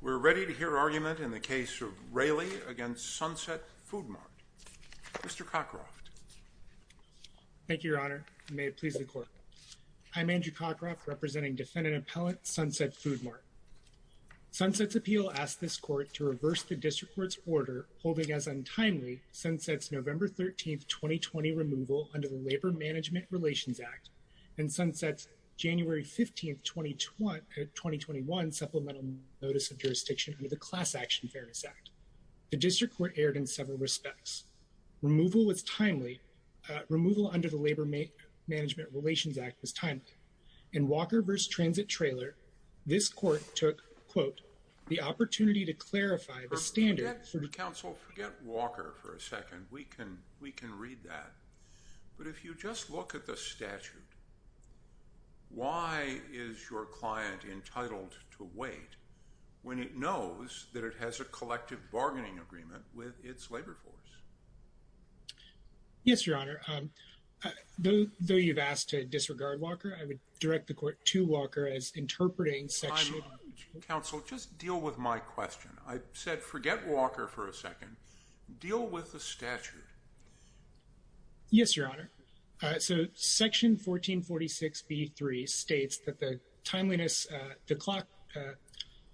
We're ready to hear argument in the case of Railey against Sunset Food Mart. Mr. Cockcroft. Thank you, Your Honor. May it please the Court. I'm Andrew Cockcroft, representing Defendant Appellant Sunset Food Mart. Sunset's appeal asks this Court to reverse the District Court's order holding as untimely Sunset's November 13, 2020, removal under the Labor Management Relations Act and Sunset's January 15, 2021, Supplemental Notice of Jurisdiction under the Class Action Fairness Act. The District Court erred in several respects. Removal under the Labor Management Relations Act was timely. In Walker v. Transit Trailer, this Court took, quote, the opportunity to clarify the standard... Counsel, forget Walker for a second. We can read that. But if you just look at the statute, why is your client entitled to wait when it knows that it has a collective bargaining agreement with its labor force? Yes, Your Honor. Though you've asked to disregard Walker, I would direct the Court to Walker as interpreting sexual... Counsel, just deal with my question. I said forget Walker for a second. Deal with the statute. Yes, Your Honor. So Section 1446B3 states that the timeliness, the clock,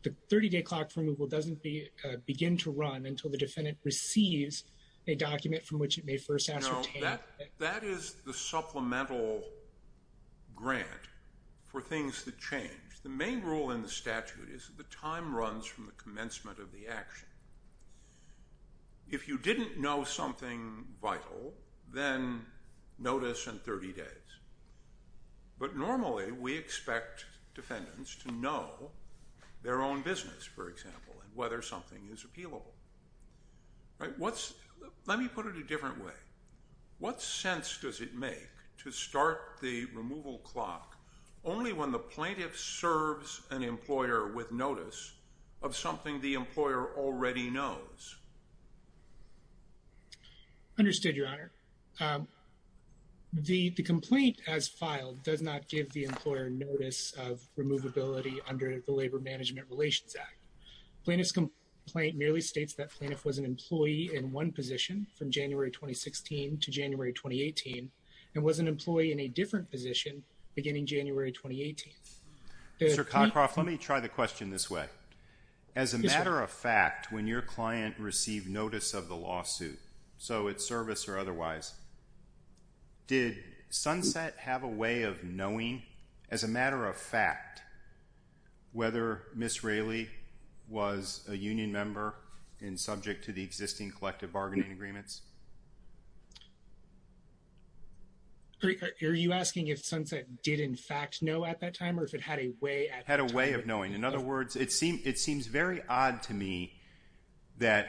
the 30-day clock for removal doesn't begin to run until the defendant receives a document from which it may first ascertain... No, that is the supplemental grant for things that change. The main rule in the statute is that the time runs from the commencement of the action. If you didn't know something vital, then notice in 30 days. But normally we expect defendants to know their own business, for example, and whether something is appealable. Let me put it a different way. What sense does it make to start the removal clock only when the plaintiff serves an employer with notice of something the employer already knows? Understood, Your Honor. The complaint as filed does not give the employer notice of removability under the Labor Management Relations Act. Plaintiff's complaint merely states that plaintiff was an employee in one position from January 2016 to January 2018 and was an employee in a different position beginning January 2018. Mr. Cockcroft, let me try the question this way. As a matter of fact, when your client received notice of the lawsuit, so it's service or otherwise, did Sunset have a way of knowing, as a matter of fact, whether Ms. Raley was a union member and subject to the existing collective bargaining agreements? Are you asking if Sunset did in fact know at that time or if it had a way at that time? In other words, it seems very odd to me that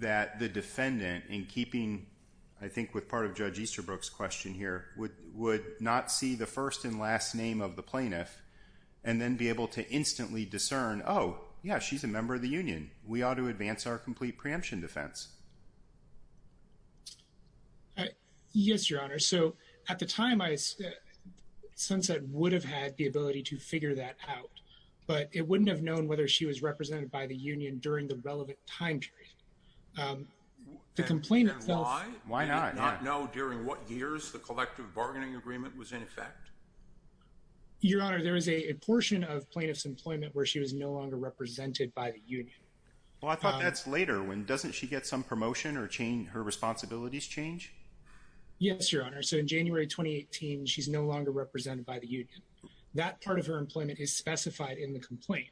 the defendant, in keeping I think with part of Judge Easterbrook's question here, would not see the first and last name of the plaintiff and then be able to instantly discern, oh, yeah, she's a member of the union. We ought to advance our complete preemption defense. Yes, Your Honor. So at the time, Sunset would have had the ability to figure that out, but it wouldn't have known whether she was represented by the union during the relevant time period. And why? Why not? Did she not know during what years the collective bargaining agreement was in effect? Your Honor, there was a portion of plaintiff's employment where she was no longer represented by the union. Well, I thought that's later. Doesn't she get some promotion or her responsibilities change? Yes, Your Honor. So in January 2018, she's no longer represented by the union. That part of her employment is specified in the complaint.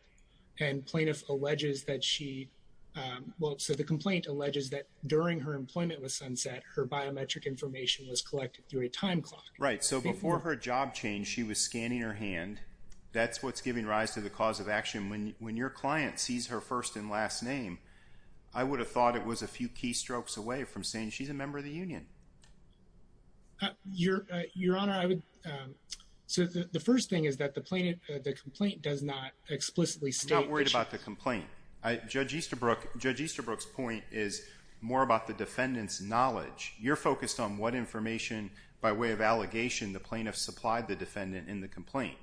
And plaintiff alleges that she – well, so the complaint alleges that during her employment with Sunset, her biometric information was collected through a time clock. Right. So before her job changed, she was scanning her hand. That's what's giving rise to the cause of action. When your client sees her first and last name, I would have thought it was a few key strokes away from saying she's a member of the union. Your Honor, I would – so the first thing is that the complaint does not explicitly state that she – I'm not worried about the complaint. Judge Easterbrook's point is more about the defendant's knowledge. You're focused on what information by way of allegation the plaintiff supplied the defendant in the complaint.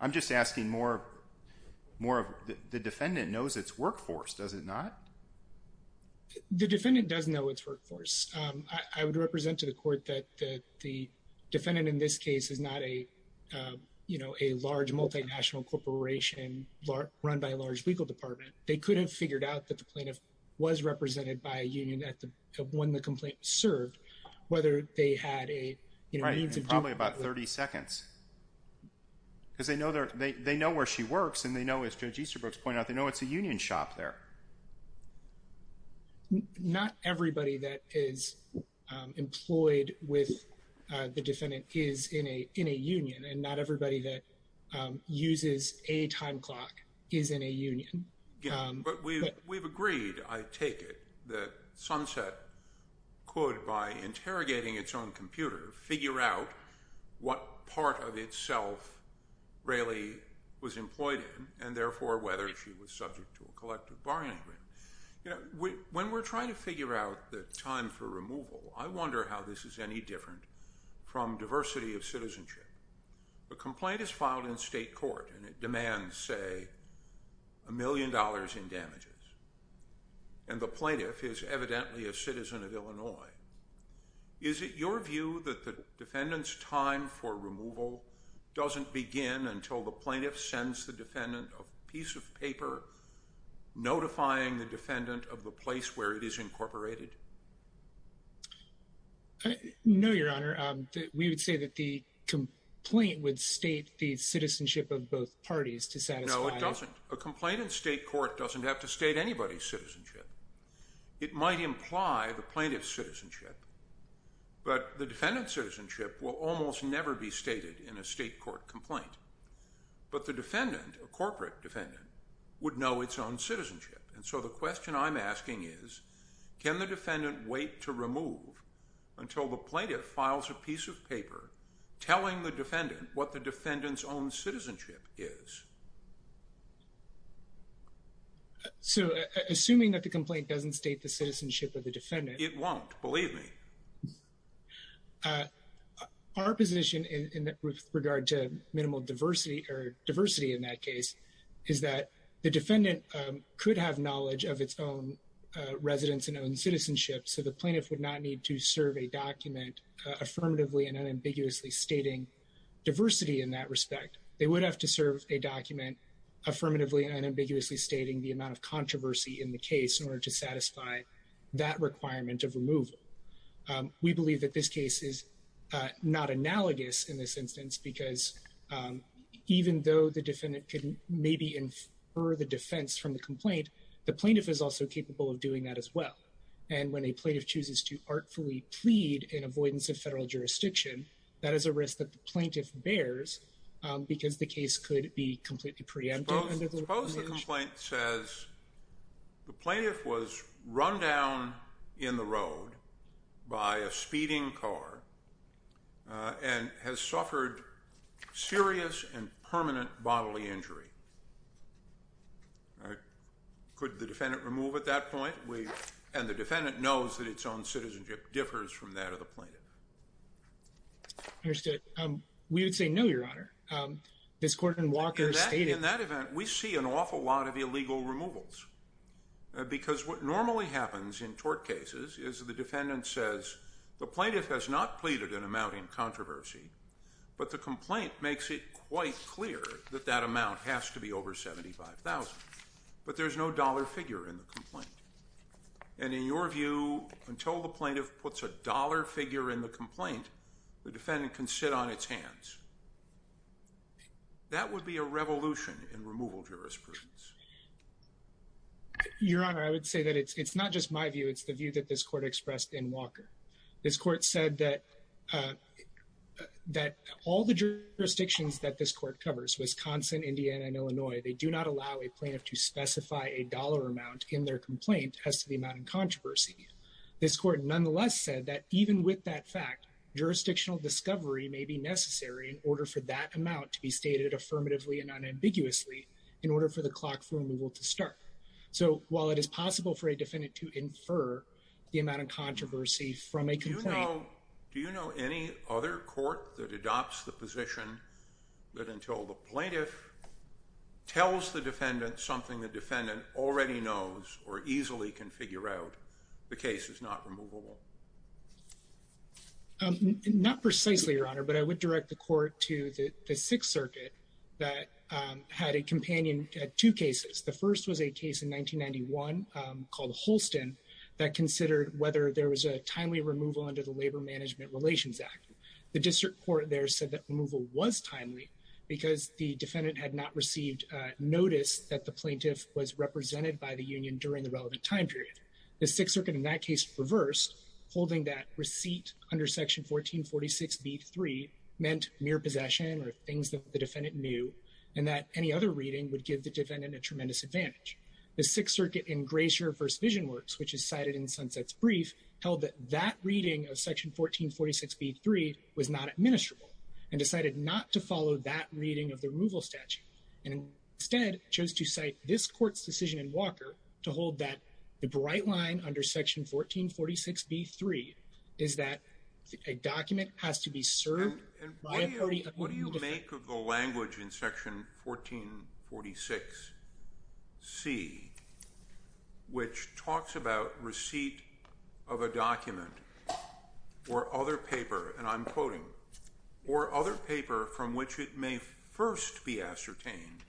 I'm just asking more of – the defendant knows its workforce, does it not? The defendant does know its workforce. I would represent to the court that the defendant in this case is not a, you know, a large multinational corporation run by a large legal department. They could have figured out that the plaintiff was represented by a union when the complaint was served, whether they had a – Right, in probably about 30 seconds. Because they know where she works and they know, as Judge Easterbrook's point out, they know it's a union shop there. Not everybody that is employed with the defendant is in a union, and not everybody that uses a time clock is in a union. But we've agreed, I take it, that Sunset could, by interrogating its own computer, figure out what part of itself Rayleigh was employed in and therefore whether she was subject to a collective bargaining agreement. When we're trying to figure out the time for removal, I wonder how this is any different from diversity of citizenship. A complaint is filed in state court and it demands, say, a million dollars in damages. And the plaintiff is evidently a citizen of Illinois. Is it your view that the defendant's time for removal doesn't begin until the plaintiff sends the defendant a piece of paper notifying the defendant of the place where it is incorporated? No, Your Honor. We would say that the complaint would state the citizenship of both parties to satisfy – No, it doesn't. A complaint in state court doesn't have to state anybody's citizenship. It might imply the plaintiff's citizenship, but the defendant's citizenship will almost never be stated in a state court complaint. But the defendant, a corporate defendant, would know its own citizenship. And so the question I'm asking is, can the defendant wait to remove until the plaintiff files a piece of paper telling the defendant what the defendant's own citizenship is? So, assuming that the complaint doesn't state the citizenship of the defendant – It won't. Believe me. Our position with regard to minimal diversity, or diversity in that case, is that the defendant could have knowledge of its own residence and own citizenship, so the plaintiff would not need to serve a document affirmatively and unambiguously stating diversity in that respect. They would have to serve a document affirmatively and unambiguously stating the amount of controversy in the case in order to satisfy that requirement of removal. We believe that this case is not analogous in this instance because, even though the defendant could maybe infer the defense from the complaint, the plaintiff is also capable of doing that as well. And when a plaintiff chooses to artfully plead in avoidance of federal jurisdiction, that is a risk that the plaintiff bears because the case could be completely preempted. Suppose the complaint says the plaintiff was run down in the road by a speeding car and has suffered serious and permanent bodily injury. Could the defendant remove at that point? And the defendant knows that its own citizenship differs from that of the plaintiff. In that event, we see an awful lot of illegal removals because what normally happens in tort cases is the defendant says, the plaintiff has not pleaded an amount in controversy, but the complaint makes it quite clear that that amount has to be over $75,000. But there's no dollar figure in the complaint. And in your view, until the plaintiff puts a dollar figure in the complaint, the defendant can sit on its hands. That would be a revolution in removal jurisprudence. Your Honor, I would say that it's not just my view, it's the view that this court expressed in Walker. This court said that all the jurisdictions that this court covers, Wisconsin, Indiana, and Illinois, they do not allow a plaintiff to specify a dollar amount in their complaint as to the amount in controversy. This court nonetheless said that even with that fact, jurisdictional discovery may be necessary in order for that amount to be stated affirmatively and unambiguously in order for the clock for removal to start. So while it is possible for a defendant to infer the amount of controversy from a complaint... Do you know any other court that adopts the position that until the plaintiff tells the defendant something the defendant already knows or easily can figure out, the case is not removable? Not precisely, Your Honor, but I would direct the court to the Sixth Circuit that had a companion at two cases. The first was a case in 1991 called Holston that considered whether there was a timely removal under the Labor Management Relations Act. The district court there said that removal was timely because the defendant had not received notice that the plaintiff was represented by the union during the relevant time period. The Sixth Circuit in that case reversed, holding that receipt under Section 1446B3 meant mere possession or things that the defendant knew and that any other reading would give the defendant a tremendous advantage. The Sixth Circuit in Grayshire v. Vision Works, which is cited in Sunset's brief, held that that reading of Section 1446B3 was not administrable and decided not to follow that reading of the removal statute and instead chose to cite this court's decision in Walker to hold that the bright line under Section 1446B3 is that a document has to be served by a party of the union district. And what do you make of the language in Section 1446C, which talks about receipt of a document or other paper, and I'm quoting, or other paper from which it may first be ascertained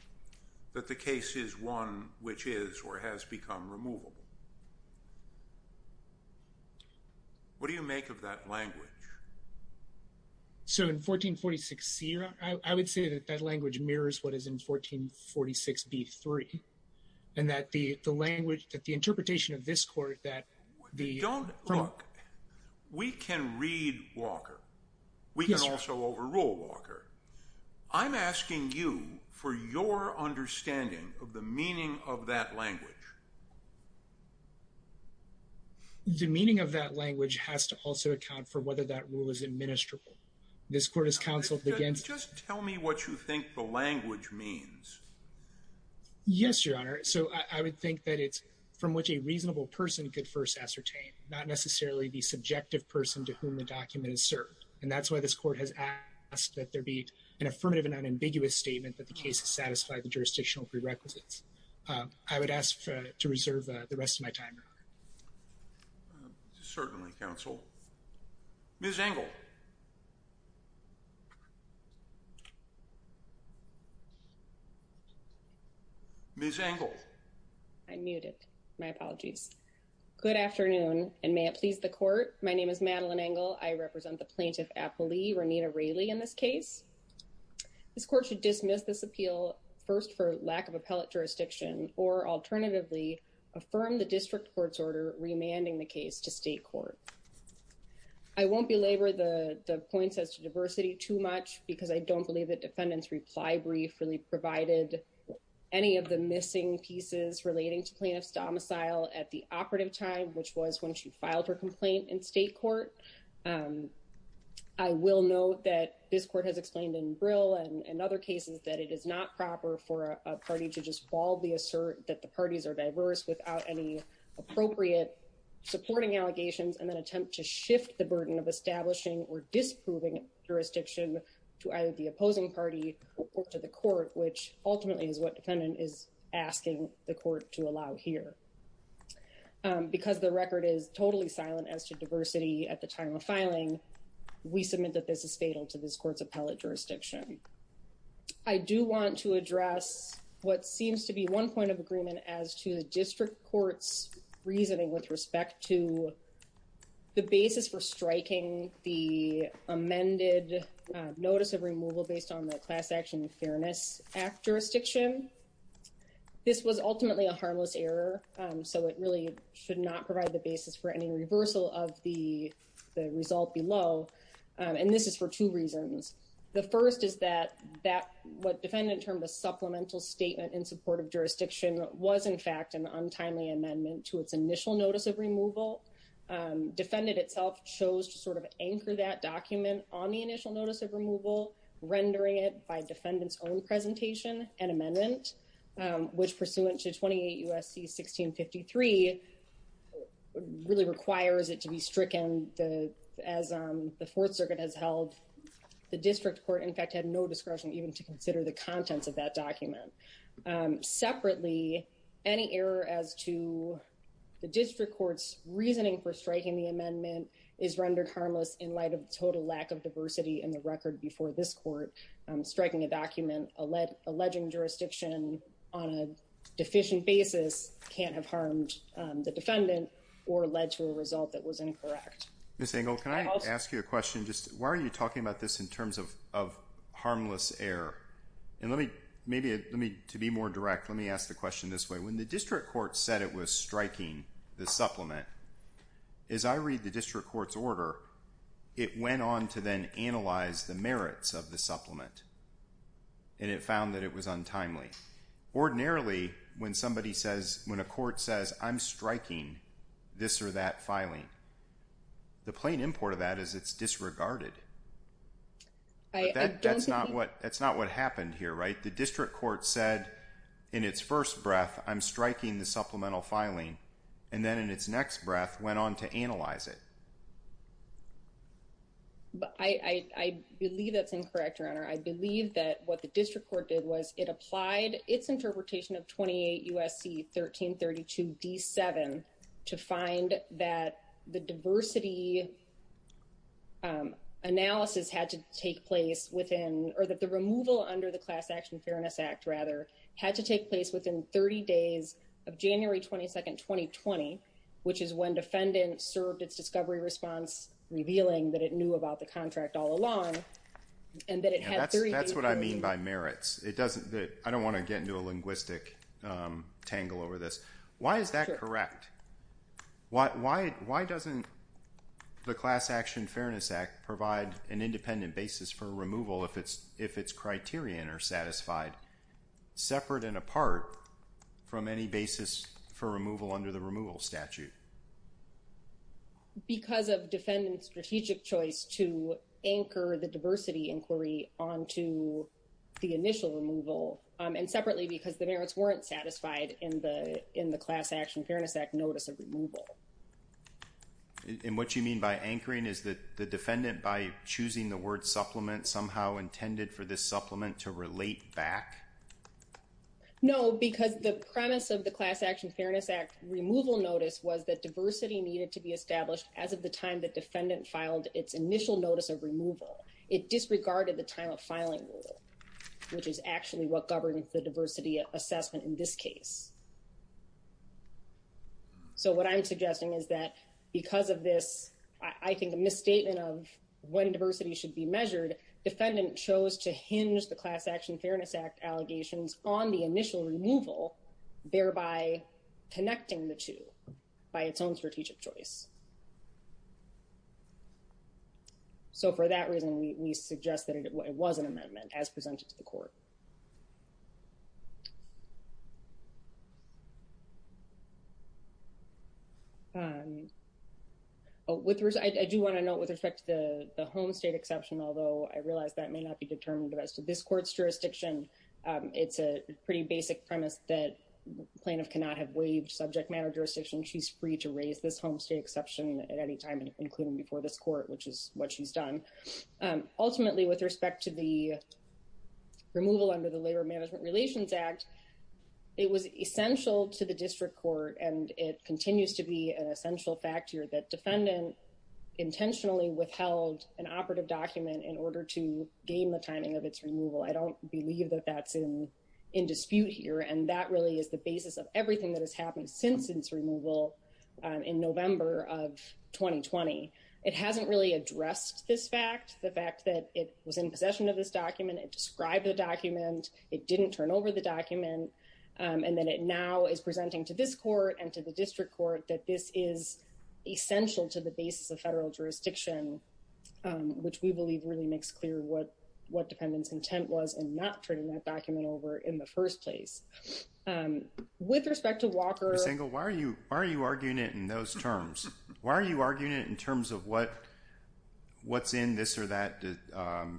that the case is one which is or has become removable? What do you make of that language? So in 1446C, I would say that that language mirrors what is in 1446B3 and that the language, that the interpretation of this court, that the... Look, we can read Walker. We can also overrule Walker. I'm asking you for your understanding of the meaning of that language. The meaning of that language has to also account for whether that rule is administrable. This court has counseled against... Just tell me what you think the language means. Yes, Your Honor. So I would think that it's from which a reasonable person could first ascertain, not necessarily the subjective person to whom the document is served. And that's why this court has asked that there be an affirmative and unambiguous statement that the case has satisfied the jurisdictional prerequisites. I would ask to reserve the rest of my time, Your Honor. Certainly, counsel. Ms. Engel. Ms. Engel. I'm muted. My apologies. Good afternoon, and may it please the court. My name is Madeline Engel. I represent the Plaintiff Appellee, Renita Raley, in this case. This court should dismiss this appeal first for lack of appellate jurisdiction or alternatively affirm the district court's order remanding the case to state court. I won't belabor the points as to diversity too much because I don't believe the defendant's reply brief really provided any of the missing pieces relating to plaintiff's domicile at the operative time, which was when she filed her complaint in state court. I will note that this court has explained in Brill and other cases that it is not proper for a party to just baldly assert that the parties are diverse without any appropriate supporting allegations and then attempt to shift the burden of establishing or disproving jurisdiction to either the opposing party or to the court, which ultimately is what defendant is asking the court to allow here. Because the record is totally silent as to diversity at the time of filing, we submit that this is fatal to this court's appellate jurisdiction. I do want to address what seems to be one point of agreement as to the district court's reasoning with respect to the basis for striking the amended notice of removal based on the Class Action Fairness Act jurisdiction. This was ultimately a harmless error, so it really should not provide the basis for any reversal of the result below, and this is for two reasons. The first is that what defendant termed a supplemental statement in support of jurisdiction was, in fact, an untimely amendment to its initial notice of removal. Defendant itself chose to sort of anchor that document on the initial notice of removal, rendering it by defendant's own presentation an amendment, which pursuant to 28 U.S.C. 1653 really requires it to be stricken and as the Fourth Circuit has held, the district court, in fact, had no discretion even to consider the contents of that document. Separately, any error as to the district court's reasoning for striking the amendment is rendered harmless in light of the total lack of diversity in the record before this court. Striking a document alleging jurisdiction on a deficient basis can't have harmed the defendant or led to a result that was incorrect. Ms. Engel, can I ask you a question? Why are you talking about this in terms of harmless error? To be more direct, let me ask the question this way. When the district court said it was striking the supplement, as I read the district court's order, it went on to then analyze the merits of the supplement, and it found that it was untimely. Ordinarily, when a court says, I'm striking this or that filing, the plain import of that is it's disregarded. That's not what happened here, right? The district court said in its first breath, I'm striking the supplemental filing, and then in its next breath went on to analyze it. I believe that's incorrect, Your Honor. I believe that what the district court did was it applied its interpretation of 28 U.S.C. 1332 D7 to find that the diversity analysis had to take place within, or that the removal under the Class Action Fairness Act, rather, had to take place within 30 days of January 22nd, 2020, which is when defendants served its discovery response, revealing that it knew about the contract all along, and that it had 30 days to do it. That's what I mean by merits. I don't want to get into a linguistic tangle over this. Why is that correct? Why doesn't the Class Action Fairness Act provide an independent basis for removal if its criterion are satisfied, separate and apart from any basis for removal under the removal statute? Because of defendant's strategic choice to anchor the diversity inquiry onto the initial removal, and separately because the merits weren't satisfied in the Class Action Fairness Act notice of removal. And what you mean by anchoring is that the defendant, by choosing the word supplement, somehow intended for this supplement to relate back? No, because the premise of the Class Action Fairness Act removal notice was that diversity needed to be established as of the time the defendant filed its initial notice of removal. It disregarded the time of filing rule, which is actually what governs the diversity assessment in this case. So what I'm suggesting is that because of this, I think a misstatement of when diversity should be measured, defendant chose to hinge the Class Action Fairness Act allegations on the by connecting the two by its own strategic choice. So for that reason, we suggest that it was an amendment as presented to the court. I do want to note with respect to the home state exception, although I realize that may not be determined as to this court's jurisdiction, it's a pretty basic premise that plaintiff cannot have waived subject matter jurisdiction. She's free to raise this home state exception at any time, including before this court, which is what she's done. Ultimately, with respect to the removal under the Labor Management Relations Act, it was essential to the district court, and it continues to be an essential factor that defendant intentionally withheld an operative document in order to gain the timing of its removal. I don't believe that that's in dispute here. And that really is the basis of everything that has happened since its removal in November of 2020. It hasn't really addressed this fact, the fact that it was in possession of this document. It described the document. It didn't turn over the document. And then it now is presenting to this court and to the district court that this is essential to the basis of federal jurisdiction, which we believe really makes clear what defendant's intent was in not turning that document over in the first place. With respect to Walker... Ms. Engel, why are you arguing it in those terms? Why are you arguing it in terms of what's in this or that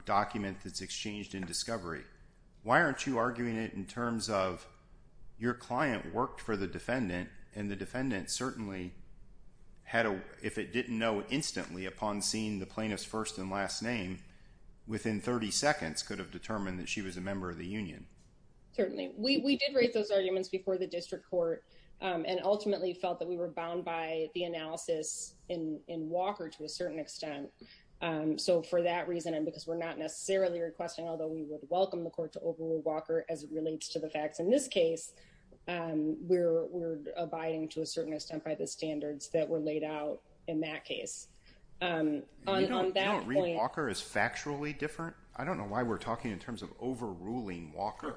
document that's exchanged in discovery? Why aren't you arguing it in terms of your client worked for the defendant, and the defendant certainly had a, if it didn't know instantly upon seeing the plaintiff's first and last name within 30 seconds could have determined that she was a member of the union. Certainly. We did raise those arguments before the district court and ultimately felt that we were bound by the analysis in Walker to a certain extent. So for that reason, and because we're not necessarily requesting, although we would welcome the court to overrule Walker as it relates to the case, we're, we're abiding to a certain extent by the standards that were laid out in that case. You don't read Walker as factually different? I don't know why we're talking in terms of overruling Walker.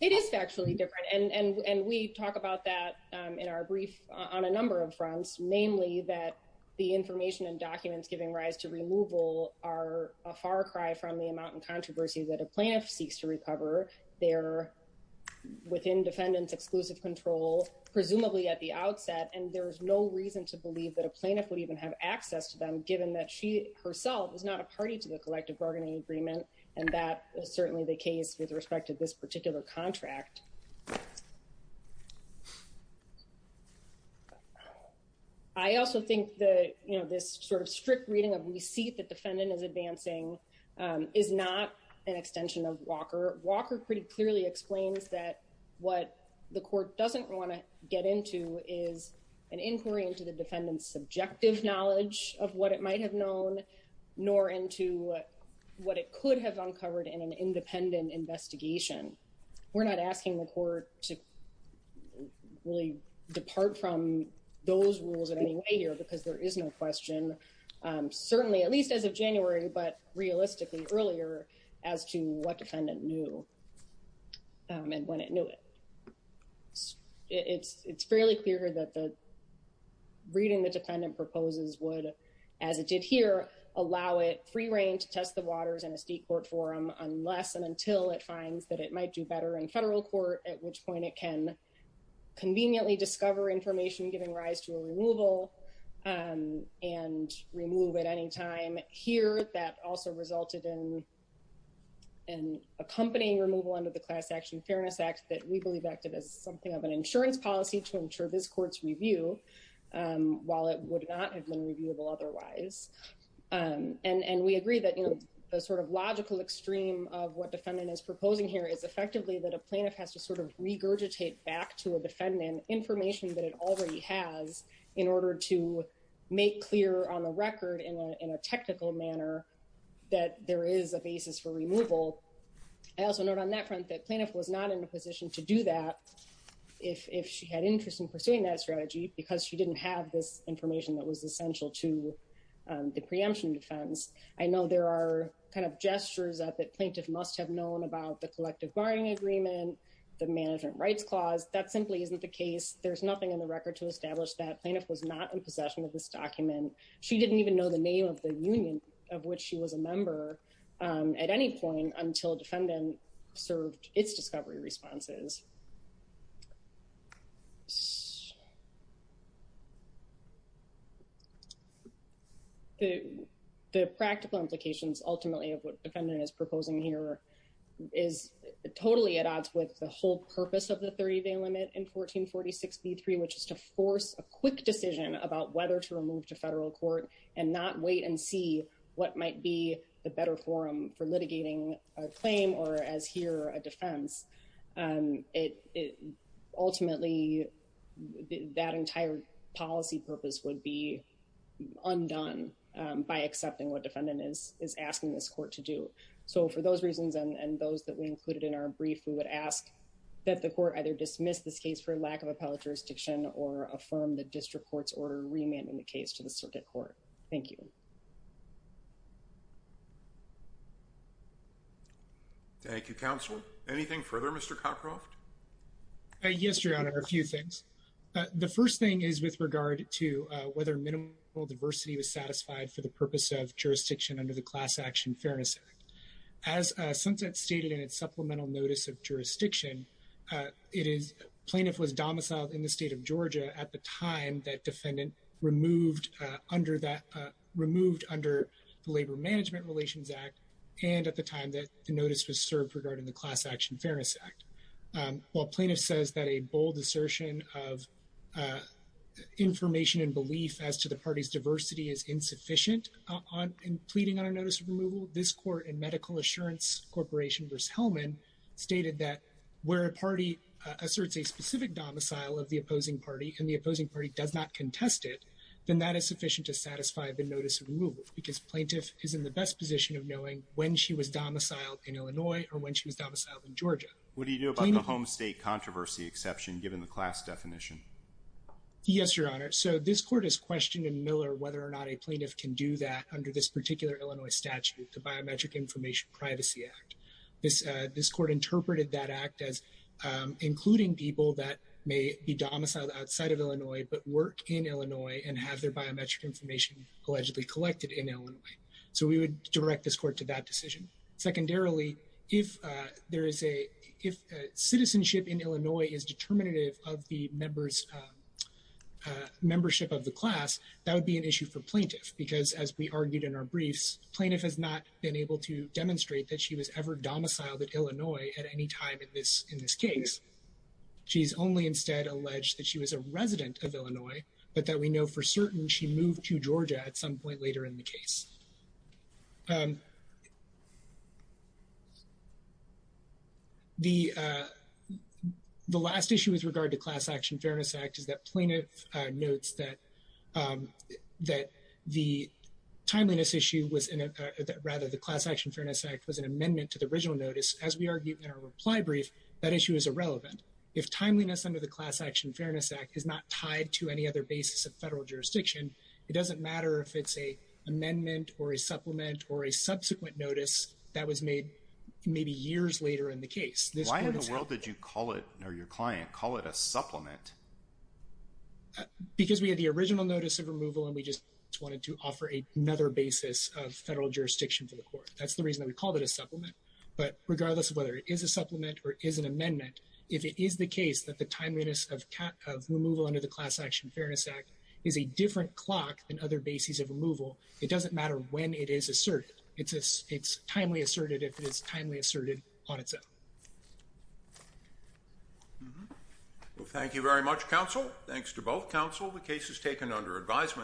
It is factually different. And we talk about that in our brief on a number of fronts, namely that the information and documents giving rise to removal are a far cry from the amount of controversy that a plaintiff seeks to recover their within defendant's exclusive control, presumably at the outset. And there was no reason to believe that a plaintiff would even have access to them, given that she herself is not a party to the collective bargaining agreement. And that is certainly the case with respect to this particular contract. I also think that, you know, this sort of strict reading of receipt that defendant is advancing is not an extension of Walker. Walker pretty clearly explains that what the court doesn't want to get into is an inquiry into the defendant's subjective knowledge of what it might have known, nor into what it could have uncovered in an independent investigation. We're not asking the court to really depart from those rules in any way here because there is no question, certainly at least as of January, but realistically earlier as to what defendant knew and when it knew it. It's, it's fairly clear that the reading the defendant proposes would as it did here, allow it free reign to test the waters in a state court forum unless and until it finds that it might do better in federal court, at which point it can conveniently discover information, giving rise to a removal and remove at any time here, but that also resulted in an accompanying removal under the class action fairness act that we believe acted as something of an insurance policy to ensure this court's review while it would not have been reviewable otherwise. And, and we agree that, you know, the sort of logical extreme of what defendant is proposing here is effectively that a plaintiff has to sort of regurgitate back to a defendant information that it already has in order to make clear on the record in a, a technical manner that there is a basis for removal. I also note on that front that plaintiff was not in a position to do that if, if she had interest in pursuing that strategy, because she didn't have this information that was essential to the preemption defense. I know there are kind of gestures that the plaintiff must have known about the collective barring agreement, the management rights clause. That simply isn't the case. There's nothing in the record to establish that plaintiff was not in possession of this document. She didn't even know the name of the union of which she was a member at any point until defendant served its discovery responses. The, the practical implications ultimately of what defendant is proposing here is totally at odds with the whole purpose of the 30 day limit in 1446 B3, which is to force a quick decision about whether to remove to federal court and not wait and see what might be the better forum for litigating a claim or as here a defense. It, it ultimately that entire policy purpose would be undone by accepting what defendant is, is asking this court to do so for those reasons and those that we included in our brief, we would ask that the court either dismiss this case for lack of appellate jurisdiction or affirm the district court's order remand in the case to the circuit court. Thank you. Thank you. Counselor. Anything further, Mr. Cockcroft. Yes, your honor. A few things. The first thing is with regard to whether minimal diversity was satisfied for the purpose of jurisdiction under the class action fairness act. As a sunset stated in its supplemental notice of jurisdiction it is plaintiff was domiciled in the state of Georgia at the time that defendant removed under that removed under the labor management relations act. And at the time that the notice was served regarding the class action fairness act, while plaintiff says that a bold assertion of information and belief as to the party's diversity is insufficient on pleading on a notice of removal. This court and medical assurance corporation versus Hellman stated that where a party asserts a specific domicile of the opposing party and the opposing party does not contest it, then that is sufficient to satisfy the notice of removal because plaintiff is in the best position of knowing when she was domiciled in Illinois or when she was domiciled in Georgia. What do you do about the home state controversy exception given the class definition? Yes, your honor. So this court has questioned in Miller whether or not a plaintiff can do that under this particular Illinois statute, the biometric information privacy act. This, this court interpreted that act as including people that may be domiciled outside of Illinois, but work in Illinois and have their biometric information allegedly collected in Illinois. So we would direct this court to that decision. Secondarily, if there is a, if citizenship in Illinois is determinative of the members membership of the class, that would be an issue for plaintiff because as we argued in our briefs, plaintiff has not been able to demonstrate that she was ever domiciled at Illinois at any time in this, in this case, she's only instead alleged that she was a resident of Illinois, but that we know for certain she moved to Georgia at some point later in the case. Um, the, uh, the last issue with regard to class action fairness act is that plaintiff, uh, notes that, um, that the timeliness issue was in a, rather the class action fairness act was an amendment to the original notice. As we argued in our reply brief, that issue is irrelevant. If timeliness under the class action fairness act is not tied to any other basis of federal jurisdiction, it doesn't matter if it's a amendment or a supplement or a subsequent notice that was made maybe years later in the case. Why in the world did you call it or your client call it a supplement? Because we had the original notice of removal and we just wanted to offer a another basis of federal jurisdiction for the court. That's the reason that we called it a supplement, but regardless of whether it is a supplement or is an amendment, if it is the case that the timeliness of, of removal under the class action fairness act is a different clock than other bases of removal, it doesn't matter when it is asserted. It's a, it's timely asserted if it is timely asserted on its own. Mm hmm. Well, thank you very much counsel. Thanks to both counsel. The case is taken under advisement.